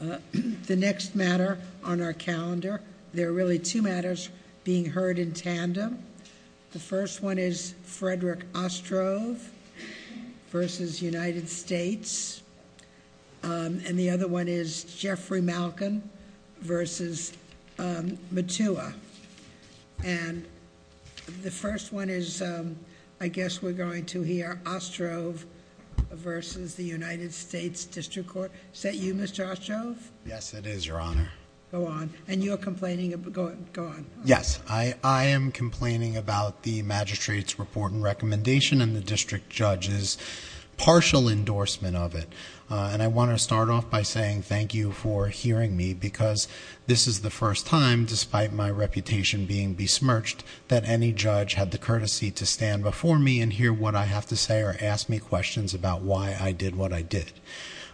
The next matter on our calendar, there are really two matters being heard in tandem. The first one is Frederick Ostrov versus United States. And the other one is Jeffrey Malkan versus Mutua. And the first one is, I guess we're going to hear Ostrov versus the United States District Court. Is that you, Mr. Ostrov? Yes, it is, Your Honor. Go on. And you're complaining about, go on. Yes, I am complaining about the magistrate's report and recommendation and the district judge's partial endorsement of it. And I want to start off by saying thank you for hearing me because this is the first time, despite my reputation being besmirched, that any judge had the courtesy to stand before me and hear what I have to say or ask me questions about why I did what I did.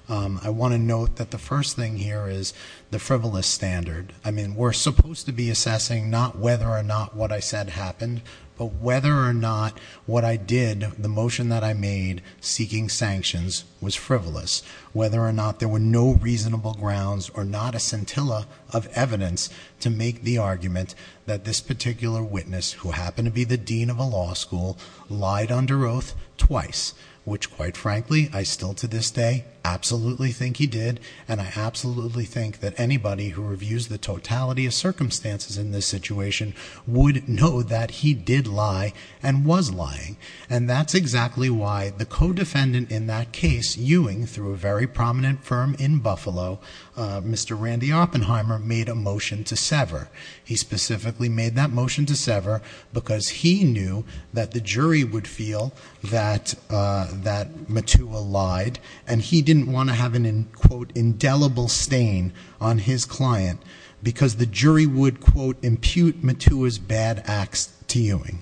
I want to note that the first thing here is the frivolous standard. I mean, we're supposed to be assessing not whether or not what I said happened, but whether or not what I did, the motion that I made seeking sanctions, was frivolous. Whether or not there were no reasonable grounds or not a scintilla of evidence to make the argument that this particular witness, who happened to be the dean of a law school, lied under oath twice. Which quite frankly, I still to this day absolutely think he did. And I absolutely think that anybody who reviews the totality of circumstances in this situation would know that he did lie and was lying. And that's exactly why the co-defendant in that case, Ewing, through a very prominent firm in Buffalo, Mr. Randy Oppenheimer, made a motion to sever. He specifically made that motion to sever because he knew that the jury would feel that Matua lied and he didn't want to have an, quote, indelible stain on his client. Because the jury would, quote, impute Matua's bad acts to Ewing.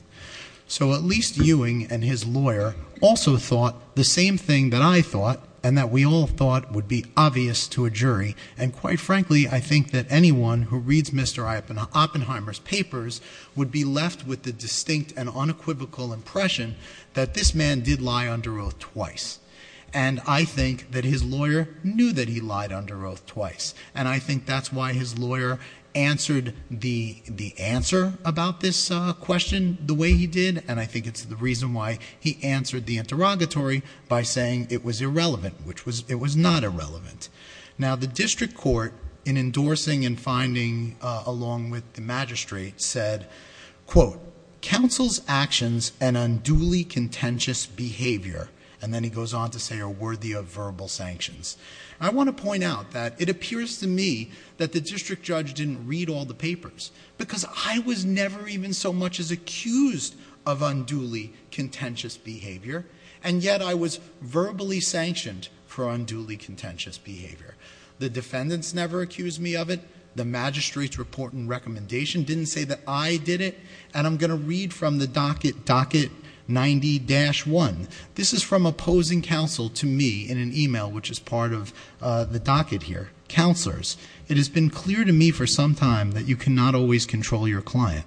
So at least Ewing and his lawyer also thought the same thing that I thought, and that we all thought would be obvious to a jury. And quite frankly, I think that anyone who reads Mr. Oppenheimer's papers would be left with the distinct and unequivocal impression that this man did lie under oath twice. And I think that his lawyer knew that he lied under oath twice. And I think that's why his lawyer answered the answer about this question the way he did. And I think it's the reason why he answered the interrogatory by saying it was irrelevant, which it was not irrelevant. Now the district court in endorsing and finding along with the magistrate said, quote, counsel's actions and unduly contentious behavior. And then he goes on to say are worthy of verbal sanctions. I want to point out that it appears to me that the district judge didn't read all the papers. Because I was never even so much as accused of unduly contentious behavior. And yet I was verbally sanctioned for unduly contentious behavior. The defendants never accused me of it. The magistrate's report and recommendation didn't say that I did it. And I'm going to read from the docket 90-1. This is from opposing counsel to me in an email which is part of the docket here. Counselors, it has been clear to me for some time that you cannot always control your client.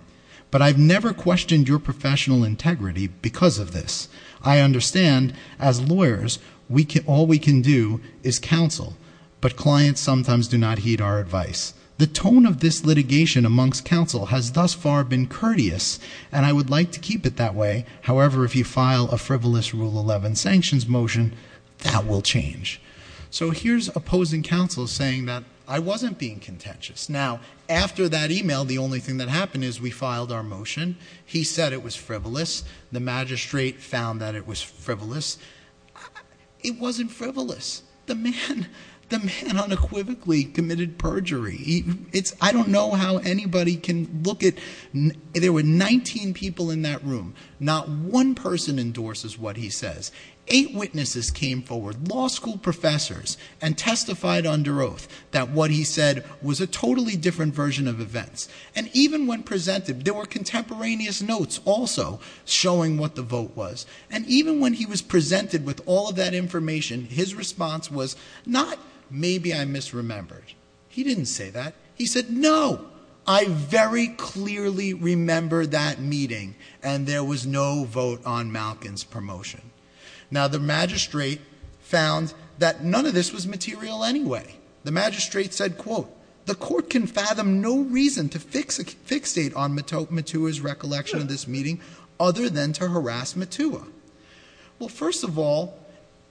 But I've never questioned your professional integrity because of this. I understand, as lawyers, all we can do is counsel. But clients sometimes do not heed our advice. The tone of this litigation amongst counsel has thus far been courteous, and I would like to keep it that way. However, if you file a frivolous rule 11 sanctions motion, that will change. So here's opposing counsel saying that I wasn't being contentious. Now, after that email, the only thing that happened is we filed our motion. He said it was frivolous. The magistrate found that it was frivolous. It wasn't frivolous. The man unequivocally committed perjury. I don't know how anybody can look at, there were 19 people in that room. Not one person endorses what he says. Eight witnesses came forward, law school professors, and testified under oath that what he said was a totally different version of events. And even when presented, there were contemporaneous notes also showing what the vote was. And even when he was presented with all of that information, his response was not, maybe I misremembered. He didn't say that. He said, no, I very clearly remember that meeting, and there was no vote on Malkin's promotion. Now, the magistrate found that none of this was material anyway. The magistrate said, quote, the court can fathom no reason to fixate on Matua's recollection of this meeting other than to harass Matua. Well, first of all,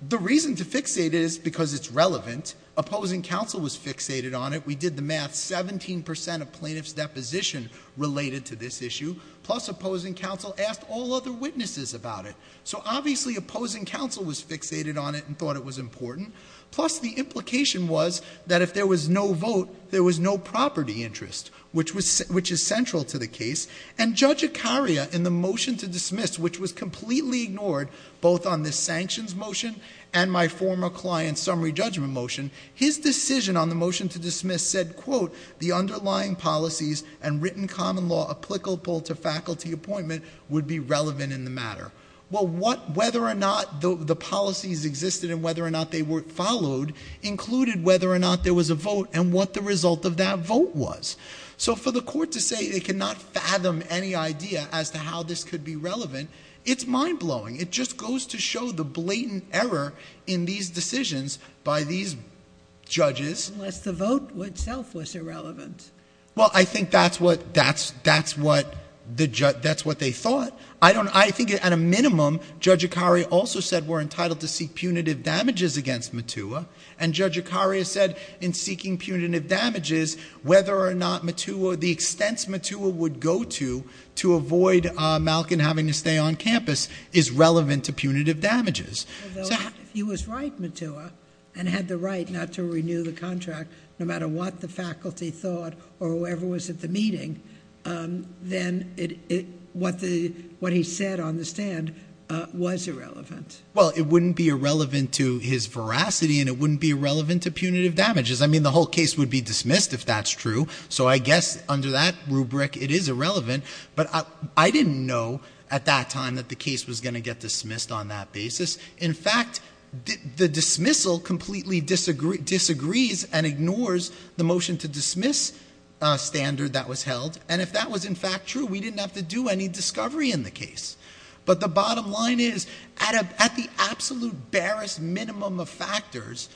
the reason to fixate it is because it's relevant. Opposing counsel was fixated on it. We did the math, 17% of plaintiff's deposition related to this issue. Plus, opposing counsel asked all other witnesses about it. So obviously, opposing counsel was fixated on it and thought it was important. Plus, the implication was that if there was no vote, there was no property interest, which is central to the case. And Judge Ikaria, in the motion to dismiss, which was completely ignored, both on the sanctions motion and my former client's summary judgment motion. His decision on the motion to dismiss said, quote, the underlying policies and written common law applicable to faculty appointment would be relevant in the matter. Well, whether or not the policies existed and whether or not they were followed included whether or not there was a vote and what the result of that vote was. So for the court to say it cannot fathom any idea as to how this could be relevant, it's mind blowing. It just goes to show the blatant error in these decisions by these judges. Unless the vote itself was irrelevant. Well, I think that's what they thought. I think at a minimum, Judge Ikaria also said we're entitled to seek punitive damages against Matua. And Judge Ikaria said, in seeking punitive damages, whether or not Matua, the extents Matua would go to, to avoid Malcon having to stay on campus, is relevant to punitive damages. So- He was right, Matua, and had the right not to renew the contract, no matter what the faculty thought or whoever was at the meeting, then what he said on the stand was irrelevant. Well, it wouldn't be irrelevant to his veracity and it wouldn't be irrelevant to punitive damages. I mean, the whole case would be dismissed if that's true, so I guess under that rubric it is irrelevant. But I didn't know at that time that the case was going to get dismissed on that basis. In fact, the dismissal completely disagrees and the standard that was held, and if that was in fact true, we didn't have to do any discovery in the case. But the bottom line is, at the absolute barest minimum of factors,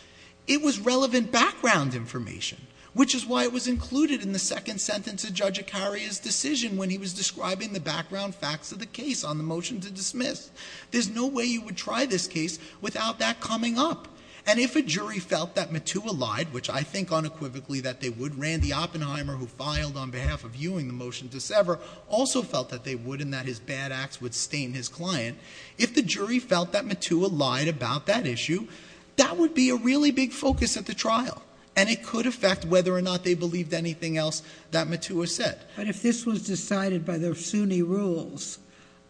it was relevant background information, which is why it was included in the second sentence of Judge Ikaria's decision when he was describing the background facts of the case on the motion to dismiss. There's no way you would try this case without that coming up. And if a jury felt that Matua lied, which I think unequivocally that they would. Randy Oppenheimer, who filed on behalf of Ewing the motion to sever, also felt that they would and that his bad acts would stain his client. If the jury felt that Matua lied about that issue, that would be a really big focus at the trial. And it could affect whether or not they believed anything else that Matua said. But if this was decided by the SUNY rules,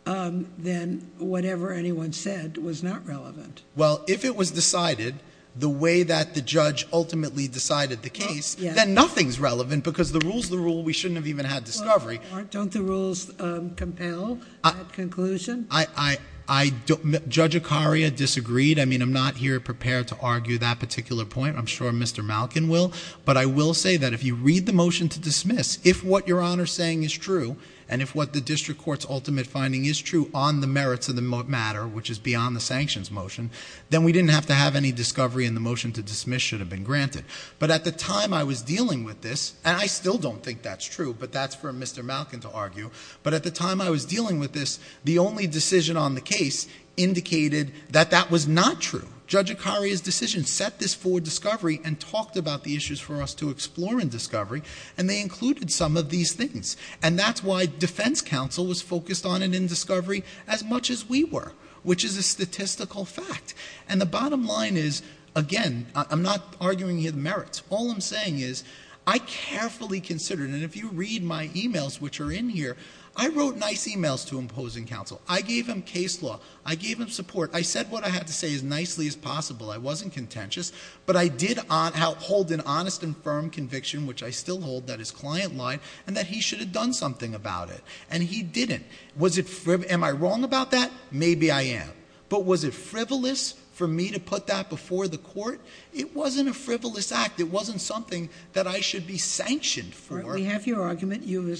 then whatever anyone said was not relevant. Well, if it was decided the way that the judge ultimately decided the case, then nothing's relevant because the rule's the rule, we shouldn't have even had discovery. Don't the rules compel a conclusion? Judge Ikaria disagreed. I mean, I'm not here prepared to argue that particular point. I'm sure Mr. Malkin will. But I will say that if you read the motion to dismiss, if what your Honor's saying is true, and if what the district court's ultimate finding is true on the merits of the matter, which is beyond the sanctions motion, then we didn't have to have any discovery and the motion to dismiss should have been granted. But at the time I was dealing with this, and I still don't think that's true, but that's for Mr. Malkin to argue. But at the time I was dealing with this, the only decision on the case indicated that that was not true. Judge Ikaria's decision set this for discovery and talked about the issues for us to explore in discovery. And they included some of these things. And that's why defense counsel was focused on it in discovery as much as we were, which is a statistical fact. And the bottom line is, again, I'm not arguing here the merits. All I'm saying is, I carefully considered, and if you read my emails which are in here, I wrote nice emails to imposing counsel. I gave him case law, I gave him support, I said what I had to say as nicely as possible. I wasn't contentious, but I did hold an honest and firm conviction, which I still hold, that his client lied, and that he should have done something about it, and he didn't. Was it, am I wrong about that? Maybe I am. But was it frivolous for me to put that before the court? It wasn't a frivolous act. It wasn't something that I should be sanctioned for. We have your argument. You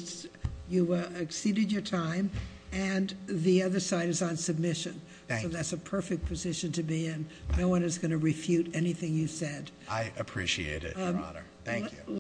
exceeded your time, and the other side is on submission. So that's a perfect position to be in. No one is going to refute anything you said. I appreciate it, Your Honor. Thank you.